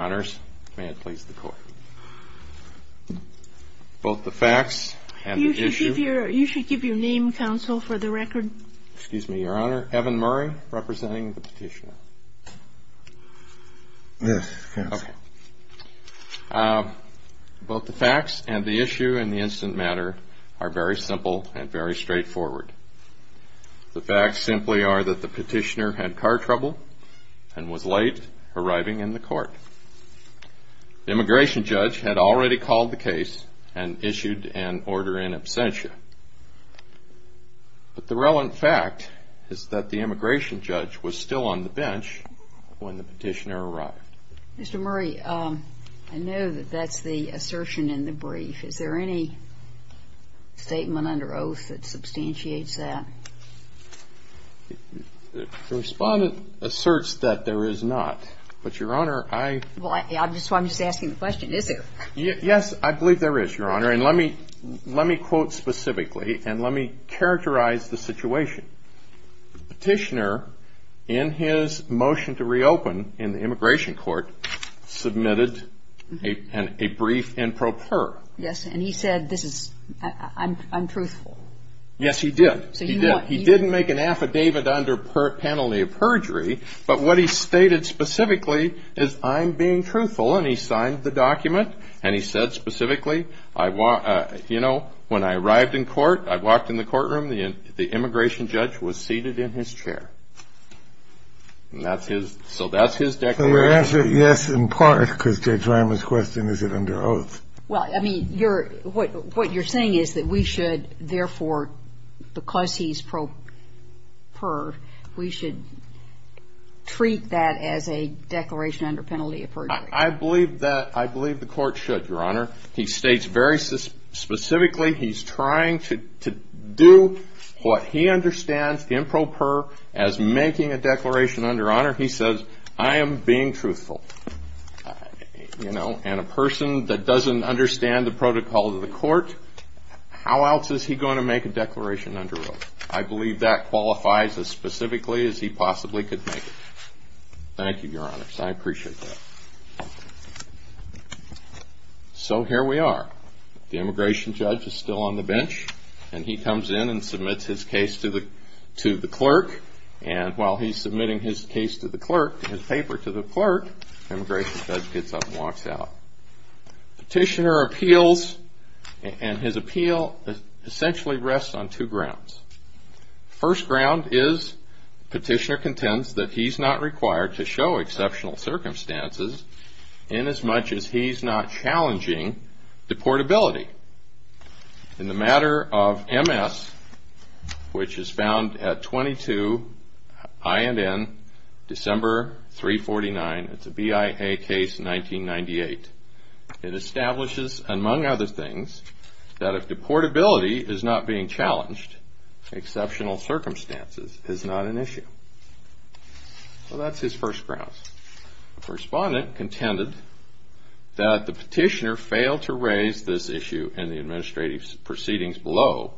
Honours, may it please the Court. Both the facts and the issue... You should give your name, counsel, for the record. Excuse me, Your Honour. Evan Murray, representing the petitioner. Yes, counsel. Okay. Both the facts and the issue in the instant matter are very simple and very straightforward. The facts simply are that the petitioner had car trouble and was late arriving in the court. The immigration judge had already called the case and issued an order in absentia. But the relevant fact is that the immigration judge was still on the bench when the petitioner arrived. Mr. Murray, I know that that's the assertion in the brief. Is there any statement under oath that substantiates that? The respondent asserts that there is not. But, Your Honour, I... Well, that's why I'm just asking the question, is there? Yes, I believe there is, Your Honour. And let me quote specifically and let me characterize the situation. The petitioner, in his motion to reopen in the immigration court, submitted a brief in pro per. Yes. And he said this is, I'm truthful. Yes, he did. He didn't make an affidavit under penalty of perjury. But what he stated specifically is I'm being truthful. And he signed the document. And he said specifically, you know, when I arrived in court, I walked in the courtroom, the immigration judge was seated in his chair. And that's his, so that's his declaration. So your answer, yes, in part, because Judge Reimer's question, is it under oath? Well, I mean, you're, what you're saying is that we should, therefore, because he's pro per, we should treat that as a declaration under penalty of perjury. I believe that, I believe the court should, Your Honour. He states very specifically he's trying to do what he understands in pro per as making a declaration under honour. He says, I am being truthful. You know, and a person that doesn't understand the protocol of the court, how else is he going to make a declaration under oath? I believe that qualifies as specifically as he possibly could make it. Thank you, Your Honour. I appreciate that. So here we are. The immigration judge is still on the bench, and he comes in and submits his case to the clerk. And while he's submitting his case to the clerk, his paper to the clerk, the immigration judge gets up and walks out. Petitioner appeals, and his appeal essentially rests on two grounds. First ground is petitioner contends that he's not required to show exceptional circumstances inasmuch as he's not challenging deportability. In the matter of MS, which is found at 22INN, December 349, it's a BIA case, 1998. It establishes, among other things, that if deportability is not being challenged, exceptional circumstances is not an issue. So that's his first grounds. Respondent contended that the petitioner failed to raise this issue in the administrative proceedings below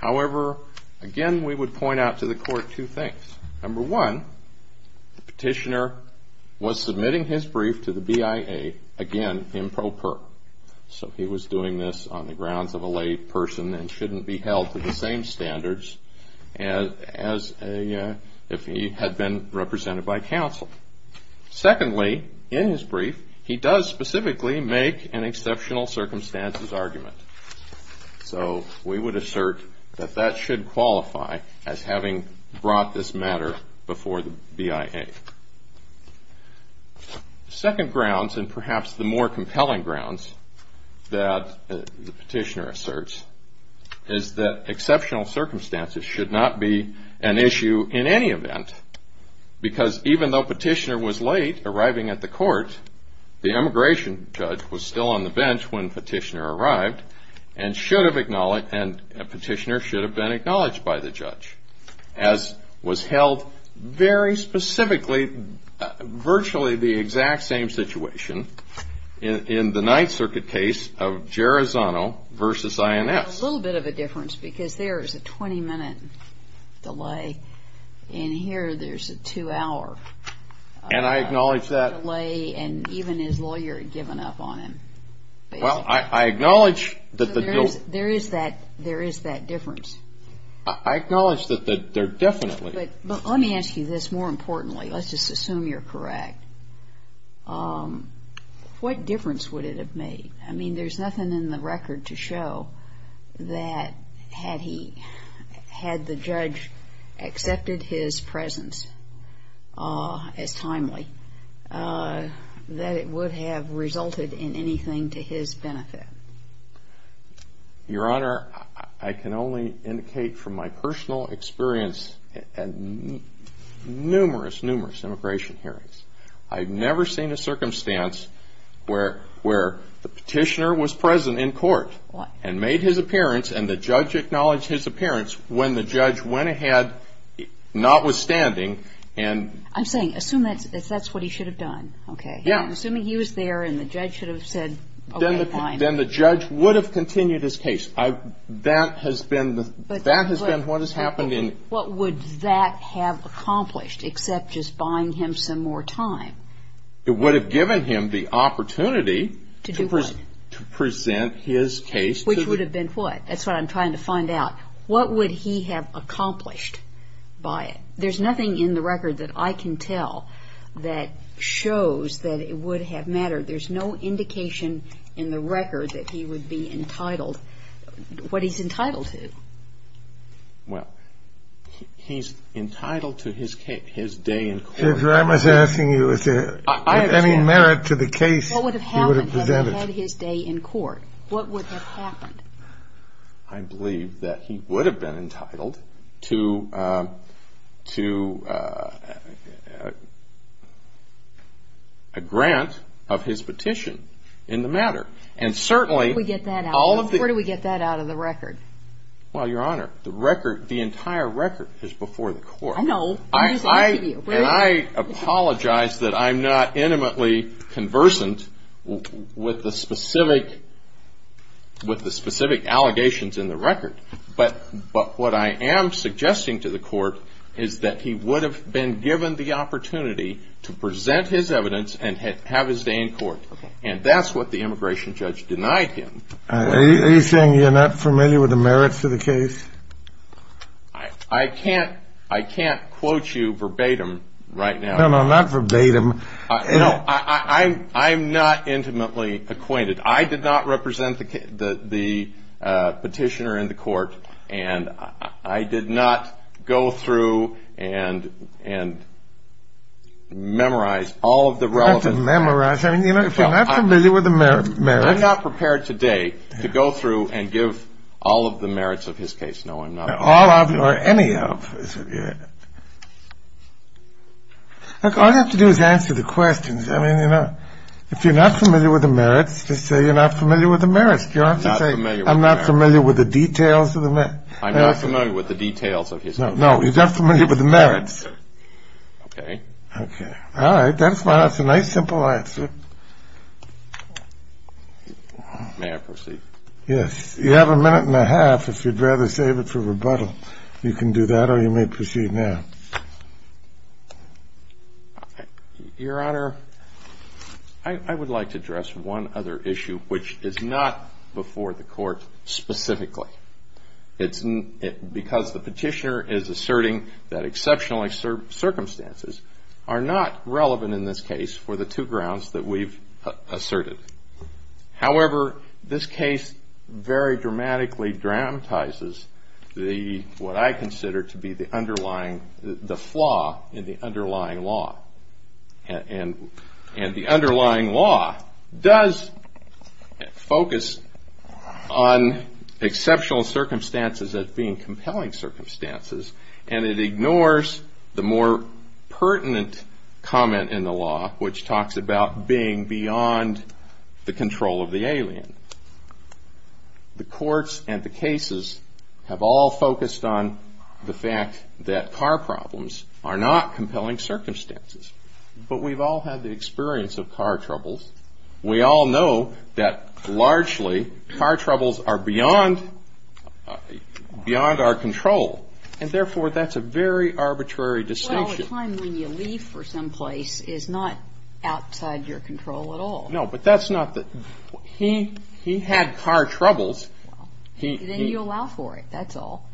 However, again, we would point out to the court two things. Number one, the petitioner was submitting his brief to the BIA, again, improper. So he was doing this on the grounds of a lay person and shouldn't be held to the same standards as if he had been represented by counsel. Secondly, in his brief, he does specifically make an exceptional circumstances argument. So we would assert that that should qualify as having brought this matter before the BIA. Second grounds, and perhaps the more compelling grounds that the petitioner asserts, is that exceptional circumstances should not be an issue in any event, because even though petitioner was late arriving at the court, the immigration judge was still on the bench when petitioner arrived and petitioner should have been acknowledged by the judge, as was held very specifically, virtually the exact same situation, in the Ninth Circuit case of Gerizano v. INS. A little bit of a difference, because there is a 20-minute delay. In here, there's a two-hour delay. And even his lawyer had given up on him, basically. Well, I acknowledge that the dual ---- So there is that difference. I acknowledge that there definitely ---- But let me ask you this more importantly. Let's just assume you're correct. What difference would it have made? I mean, there's nothing in the record to show that had he, had the judge accepted his presence as timely, that it would have resulted in anything to his benefit. Your Honor, I can only indicate from my personal experience at numerous, numerous immigration hearings, I've never seen a circumstance where the petitioner was present in court and made his appearance and the judge acknowledged his appearance when the judge went ahead, notwithstanding, and ---- I'm saying, assume that's what he should have done, okay? Yeah. I'm assuming he was there and the judge should have said, okay, fine. Then the judge would have continued his case. That has been what has happened in ---- What would that have accomplished, except just buying him some more time? It would have given him the opportunity to present his case to the ---- Which would have been what? That's what I'm trying to find out. What would he have accomplished by it? There's nothing in the record that I can tell that shows that it would have mattered. There's no indication in the record that he would be entitled, what he's entitled to. Well, he's entitled to his day in court. I was asking you if there was any merit to the case he would have presented. What would have happened if he had his day in court? What would have happened? I believe that he would have been entitled to a grant of his petition in the matter. And certainly all of the ---- Where do we get that out of the record? Well, Your Honor, the entire record is before the court. I know. And I apologize that I'm not intimately conversant with the specific allegations in the record. But what I am suggesting to the court is that he would have been given the opportunity to present his evidence and have his day in court. And that's what the immigration judge denied him. Are you saying you're not familiar with the merit to the case? I can't quote you verbatim right now. No, no, not verbatim. No, I'm not intimately acquainted. I did not represent the petitioner in the court. And I did not go through and memorize all of the relevant ---- You didn't memorize anything. You're not familiar with the merits. I'm not prepared today to go through and give all of the merits of his case. No, I'm not. All of or any of. Look, all you have to do is answer the questions. I mean, you know, if you're not familiar with the merits, just say you're not familiar with the merits. You don't have to say I'm not familiar with the details of the merits. I'm not familiar with the details of his case. No, you're not familiar with the merits. Okay. Okay. All right. That's fine. That's a nice, simple answer. May I proceed? Yes. You have a minute and a half, if you'd rather save it for rebuttal. You can do that or you may proceed now. Your Honor, I would like to address one other issue, which is not before the court specifically. It's because the petitioner is asserting that exceptional circumstances are not relevant in this case for the two grounds that we've asserted. However, this case very dramatically dramatizes what I consider to be the underlying, the flaw in the underlying law. And the underlying law does focus on exceptional circumstances as being compelling circumstances, and it ignores the more pertinent comment in the law, which talks about being beyond the control of the alien. The courts and the cases have all focused on the fact that car problems are not compelling circumstances, but we've all had the experience of car troubles. We all know that largely car troubles are beyond our control, and therefore that's a very arbitrary distinction. Well, a time when you leave for some place is not outside your control at all. No, but that's not the – he had car troubles. Then you allow for it, that's all.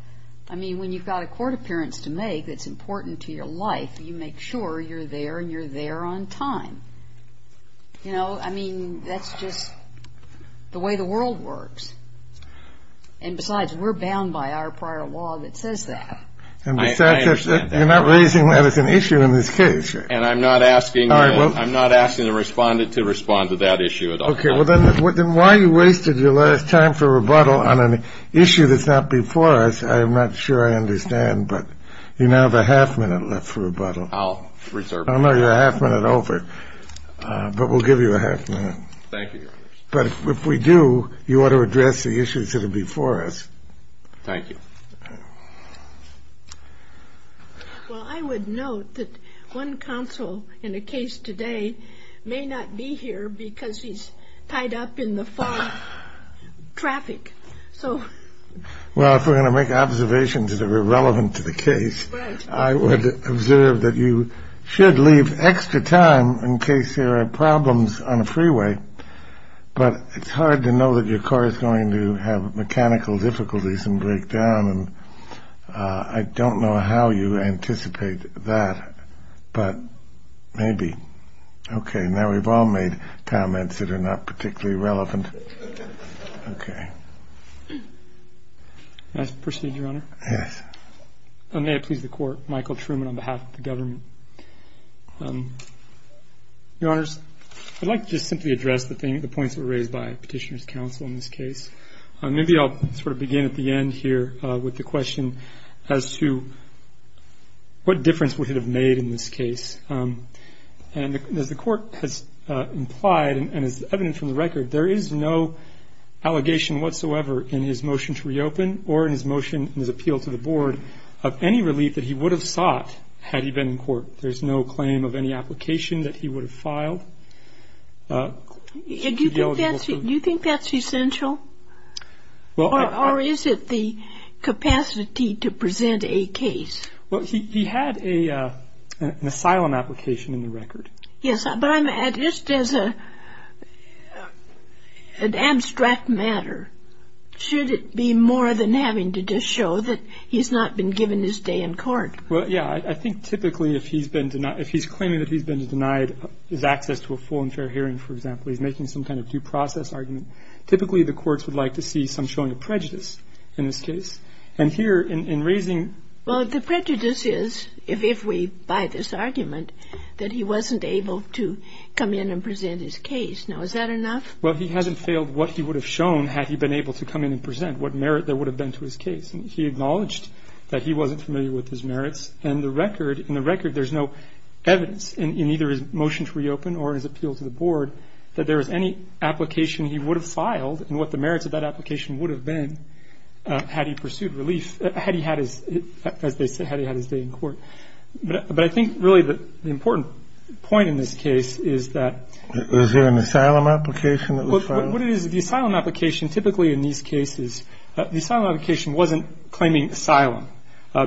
I mean, when you've got a court appearance to make that's important to your life, you make sure you're there and you're there on time. You know, I mean, that's just the way the world works. And besides, we're bound by our prior law that says that. And besides, you're not raising that as an issue in this case. And I'm not asking – All right, well – I'm not asking the respondent to respond to that issue at all. Okay, well, then why you wasted your last time for rebuttal on an issue that's not before us, I'm not sure I understand, but you now have a half minute left for rebuttal. I'll reserve it. I know you're a half minute over, but we'll give you a half minute. Thank you, Your Honor. But if we do, you ought to address the issues that are before us. Thank you. Well, I would note that one counsel in a case today may not be here because he's tied up in the far traffic, so – Well, if we're going to make observations that are relevant to the case, I would observe that you should leave extra time in case there are problems on a freeway. But it's hard to know that your car is going to have mechanical difficulties and break down. And I don't know how you anticipate that, but maybe. Okay. Now we've all made comments that are not particularly relevant. Okay. May I proceed, Your Honor? Yes. May it please the Court, Michael Truman on behalf of the government. Your Honors, I'd like to just simply address the points that were raised by Petitioner's counsel in this case. Maybe I'll sort of begin at the end here with the question as to what difference would it have made in this case. And as the Court has implied and is evident from the record, there is no allegation whatsoever in his motion to reopen or in his motion in his appeal to the Board of any relief that he would have sought had he been in court. There's no claim of any application that he would have filed. Do you think that's essential? Or is it the capacity to present a case? Well, he had an asylum application in the record. Yes. But just as an abstract matter, should it be more than having to just show that he's not been given his day in court? Well, yeah. I think typically if he's claiming that he's been denied his access to a full and fair hearing, for example, he's making some kind of due process argument, typically the courts would like to see some showing of prejudice in this case. And here in raising — Well, the prejudice is, if we buy this argument, that he wasn't able to come in and present his case. Now, is that enough? Well, he hasn't failed what he would have shown had he been able to come in and present, what merit there would have been to his case. And he acknowledged that he wasn't familiar with his merits. And the record — in the record, there's no evidence in either his motion to reopen or his appeal to the Board that there was any application he would have filed and what the merits of that application would have been had he pursued relief — had he had his — as they say, had he had his day in court. But I think, really, the important point in this case is that — Was there an asylum application that was filed? What it is, the asylum application, typically in these cases, the asylum application wasn't claiming asylum.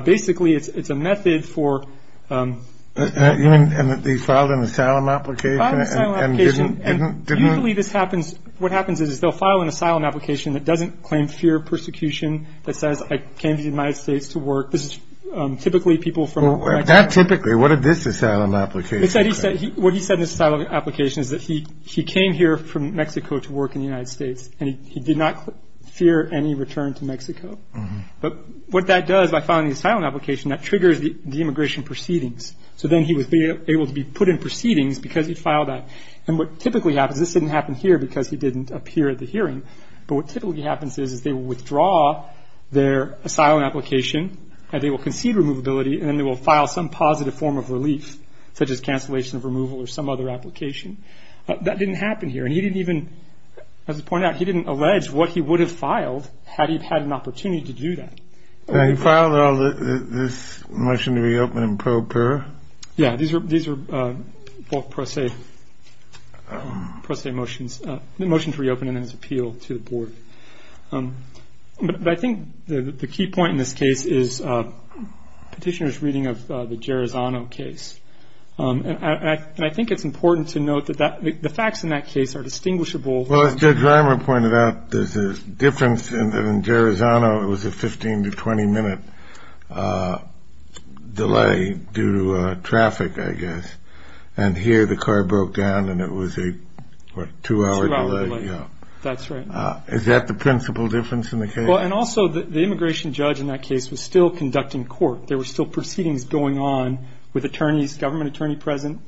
Basically, it's a method for — You mean that they filed an asylum application and didn't — Filed an asylum application, and usually this happens — what happens is they'll file an asylum application that doesn't claim fear of persecution, that says, I came to the United States to work. This is typically people from — Well, not typically. What did this asylum application claim? It said — what he said in this asylum application is that he came here from Mexico to work in the United States, and he did not fear any return to Mexico. But what that does, by filing the asylum application, that triggers the immigration proceedings. So then he would be able to be put in proceedings because he filed that. And what typically happens — this didn't happen here because he didn't appear at the hearing. But what typically happens is they withdraw their asylum application, and they will concede removability, and then they will file some positive form of relief, such as cancellation of removal or some other application. That didn't happen here. And he didn't even — as I pointed out, he didn't allege what he would have filed had he had an opportunity to do that. He filed this motion to reopen in pro para. Yeah. These are both pro se motions. The motion to reopen it is appealed to the board. But I think the key point in this case is Petitioner's reading of the Gerizano case. And I think it's important to note that the facts in that case are distinguishable. Well, as Judge Reimer pointed out, there's a difference in that in Gerizano it was a 15 to 20-minute delay due to traffic, I guess. And here the car broke down, and it was a, what, two-hour delay? Two-hour delay. That's right. Is that the principal difference in the case? Well, and also the immigration judge in that case was still conducting court. There were still proceedings going on with attorneys, government attorney present.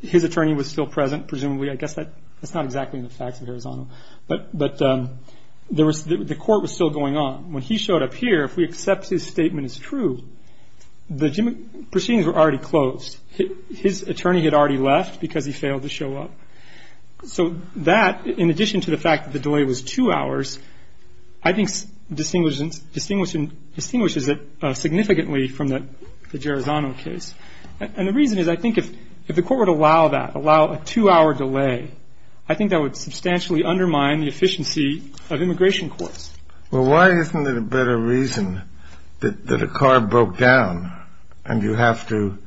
His attorney was still present, presumably. I guess that's not exactly the facts of Gerizano. But the court was still going on. When he showed up here, if we accept his statement as true, the proceedings were already closed. His attorney had already left because he failed to show up. So that, in addition to the fact that the delay was two hours, I think distinguishes it significantly from the Gerizano case. And the reason is I think if the court would allow that, allow a two-hour delay, I think that would substantially undermine the efficiency of immigration courts. Well, why isn't it a better reason that a car broke down, and you have to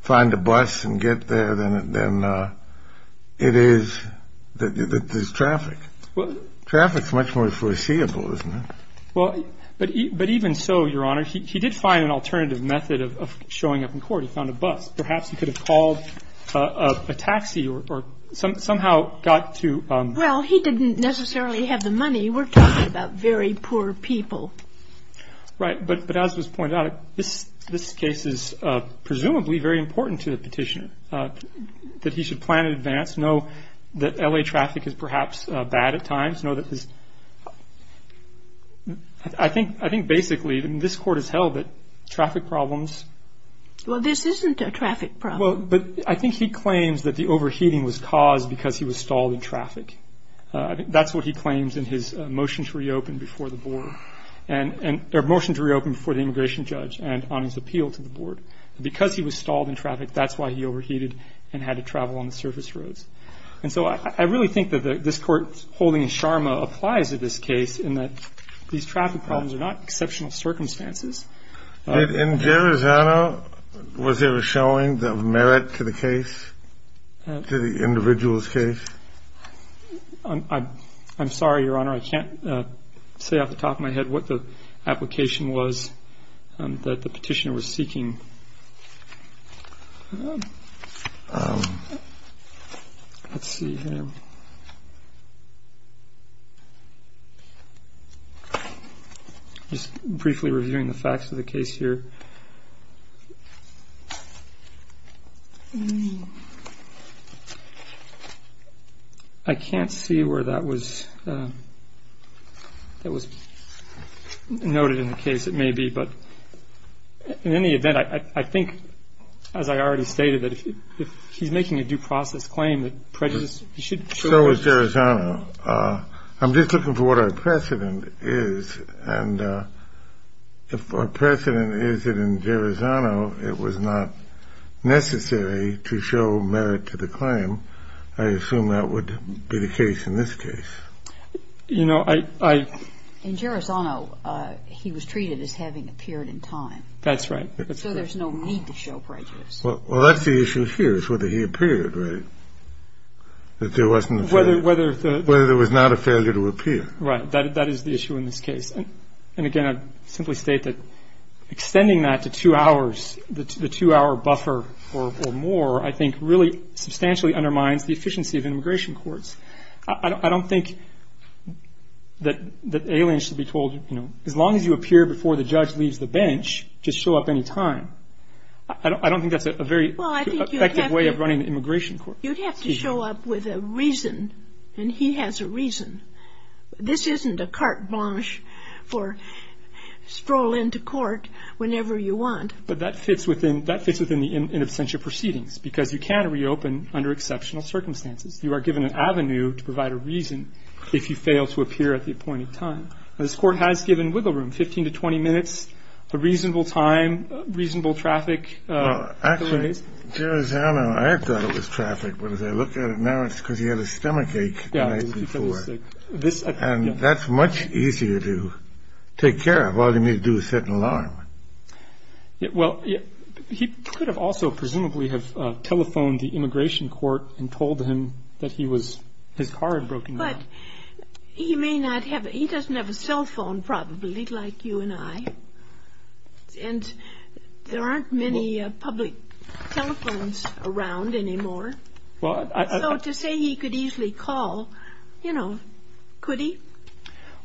find a bus and get there than it is that there's traffic? Traffic is much more foreseeable, isn't it? Well, but even so, Your Honor, he did find an alternative method of showing up in court. He found a bus. Perhaps he could have called a taxi or somehow got to ‑‑ Well, he didn't necessarily have the money. We're talking about very poor people. Right. But as was pointed out, this case is presumably very important to the petitioner, that he should plan in advance, know that L.A. traffic is perhaps bad at times, know that his ‑‑ I think basically this Court has held that traffic problems ‑‑ Well, this isn't a traffic problem. Well, but I think he claims that the overheating was caused because he was stalled in traffic. I think that's what he claims in his motion to reopen before the board. Or motion to reopen before the immigration judge and on his appeal to the board. Because he was stalled in traffic, that's why he overheated and had to travel on the surface roads. And so I really think that this Court's holding in Sharma applies to this case in that these traffic problems are not exceptional circumstances. In Garazano, was there a showing of merit to the case, to the individual's case? I'm sorry, Your Honor, I can't say off the top of my head what the application was that the petitioner was seeking. Let's see here. Just briefly reviewing the facts of the case here. I can't see where that was noted in the case. It may be. But in any event, I think, as I already stated, that if he's making a due process claim, that prejudice should show. So is Garazano. I'm just looking for what our precedent is. And if our precedent is that in Garazano it was not necessary to show merit to the claim, I assume that would be the case in this case. You know, I. In Garazano, he was treated as having appeared in time. That's right. So there's no need to show prejudice. Well, that's the issue here is whether he appeared, right? Whether there was not a failure to appear. Right. That is the issue in this case. And, again, I'd simply state that extending that to two hours, the two-hour buffer or more, I think really substantially undermines the efficiency of immigration courts. I don't think that aliens should be told, you know, as long as you appear before the judge leaves the bench, just show up any time. I don't think that's a very effective way of running an immigration court. You'd have to show up with a reason. And he has a reason. This isn't a carte blanche for stroll into court whenever you want. But that fits within the in absentia proceedings because you can reopen under exceptional circumstances. You are given an avenue to provide a reason if you fail to appear at the appointed time. This court has given wiggle room, 15 to 20 minutes, a reasonable time, reasonable traffic. Actually, I thought it was traffic. But as I look at it now, it's because he had a stomachache the night before. And that's much easier to take care of. All you need to do is set an alarm. Well, he could have also presumably have telephoned the immigration court and told him that his car had broken down. He doesn't have a cell phone, probably, like you and I. And there aren't many public telephones around anymore. So to say he could easily call, you know, could he?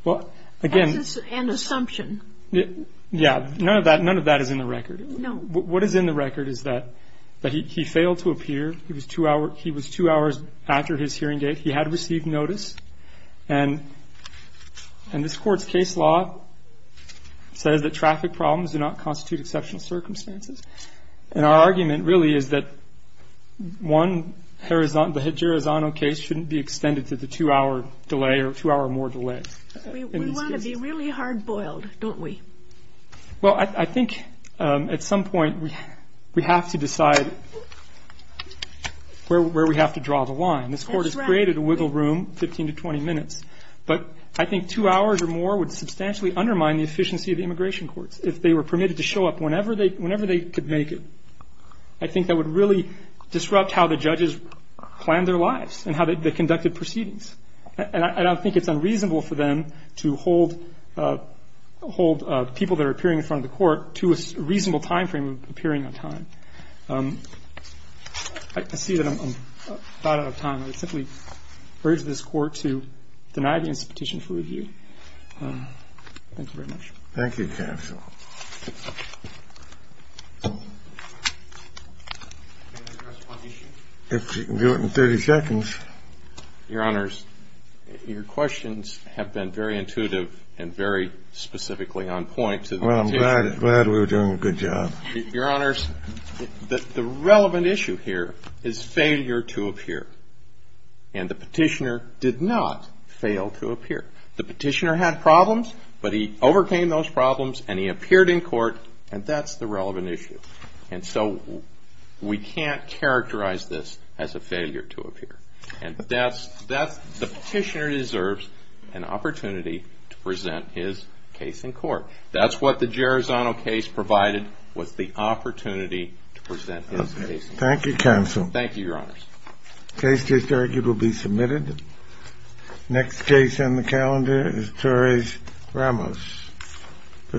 That's just an assumption. Yeah. None of that is in the record. No. What is in the record is that he failed to appear. He was two hours after his hearing date. He had received notice. And this court's case law says that traffic problems do not constitute exceptional circumstances. And our argument really is that one, the Jerezano case, shouldn't be extended to the two-hour delay or two-hour-or-more delay. We want to be really hard-boiled, don't we? Well, I think at some point we have to decide where we have to draw the line. That's right. This court has created a wiggle room, 15 to 20 minutes. But I think two hours or more would substantially undermine the efficiency of the immigration courts if they were permitted to show up whenever they could make it. I think that would really disrupt how the judges planned their lives and how they conducted proceedings. And I don't think it's unreasonable for them to hold people that are appearing in front of the court to a reasonable time frame of appearing on time. I see that I'm about out of time. I would simply urge this Court to deny the institution for review. Thank you very much. Thank you, counsel. If you can do it in 30 seconds. Your Honors, your questions have been very intuitive and very specifically on point to the institution. Well, I'm glad we were doing a good job. Your Honors, the relevant issue here is failure to appear. And the petitioner did not fail to appear. The petitioner had problems, but he overcame those problems and he appeared in court, and that's the relevant issue. And so we can't characterize this as a failure to appear. And the petitioner deserves an opportunity to present his case in court. That's what the Gerizano case provided, was the opportunity to present his case in court. Thank you, counsel. Thank you, Your Honors. The case is argued to be submitted. Next case on the calendar is Torres-Ramos.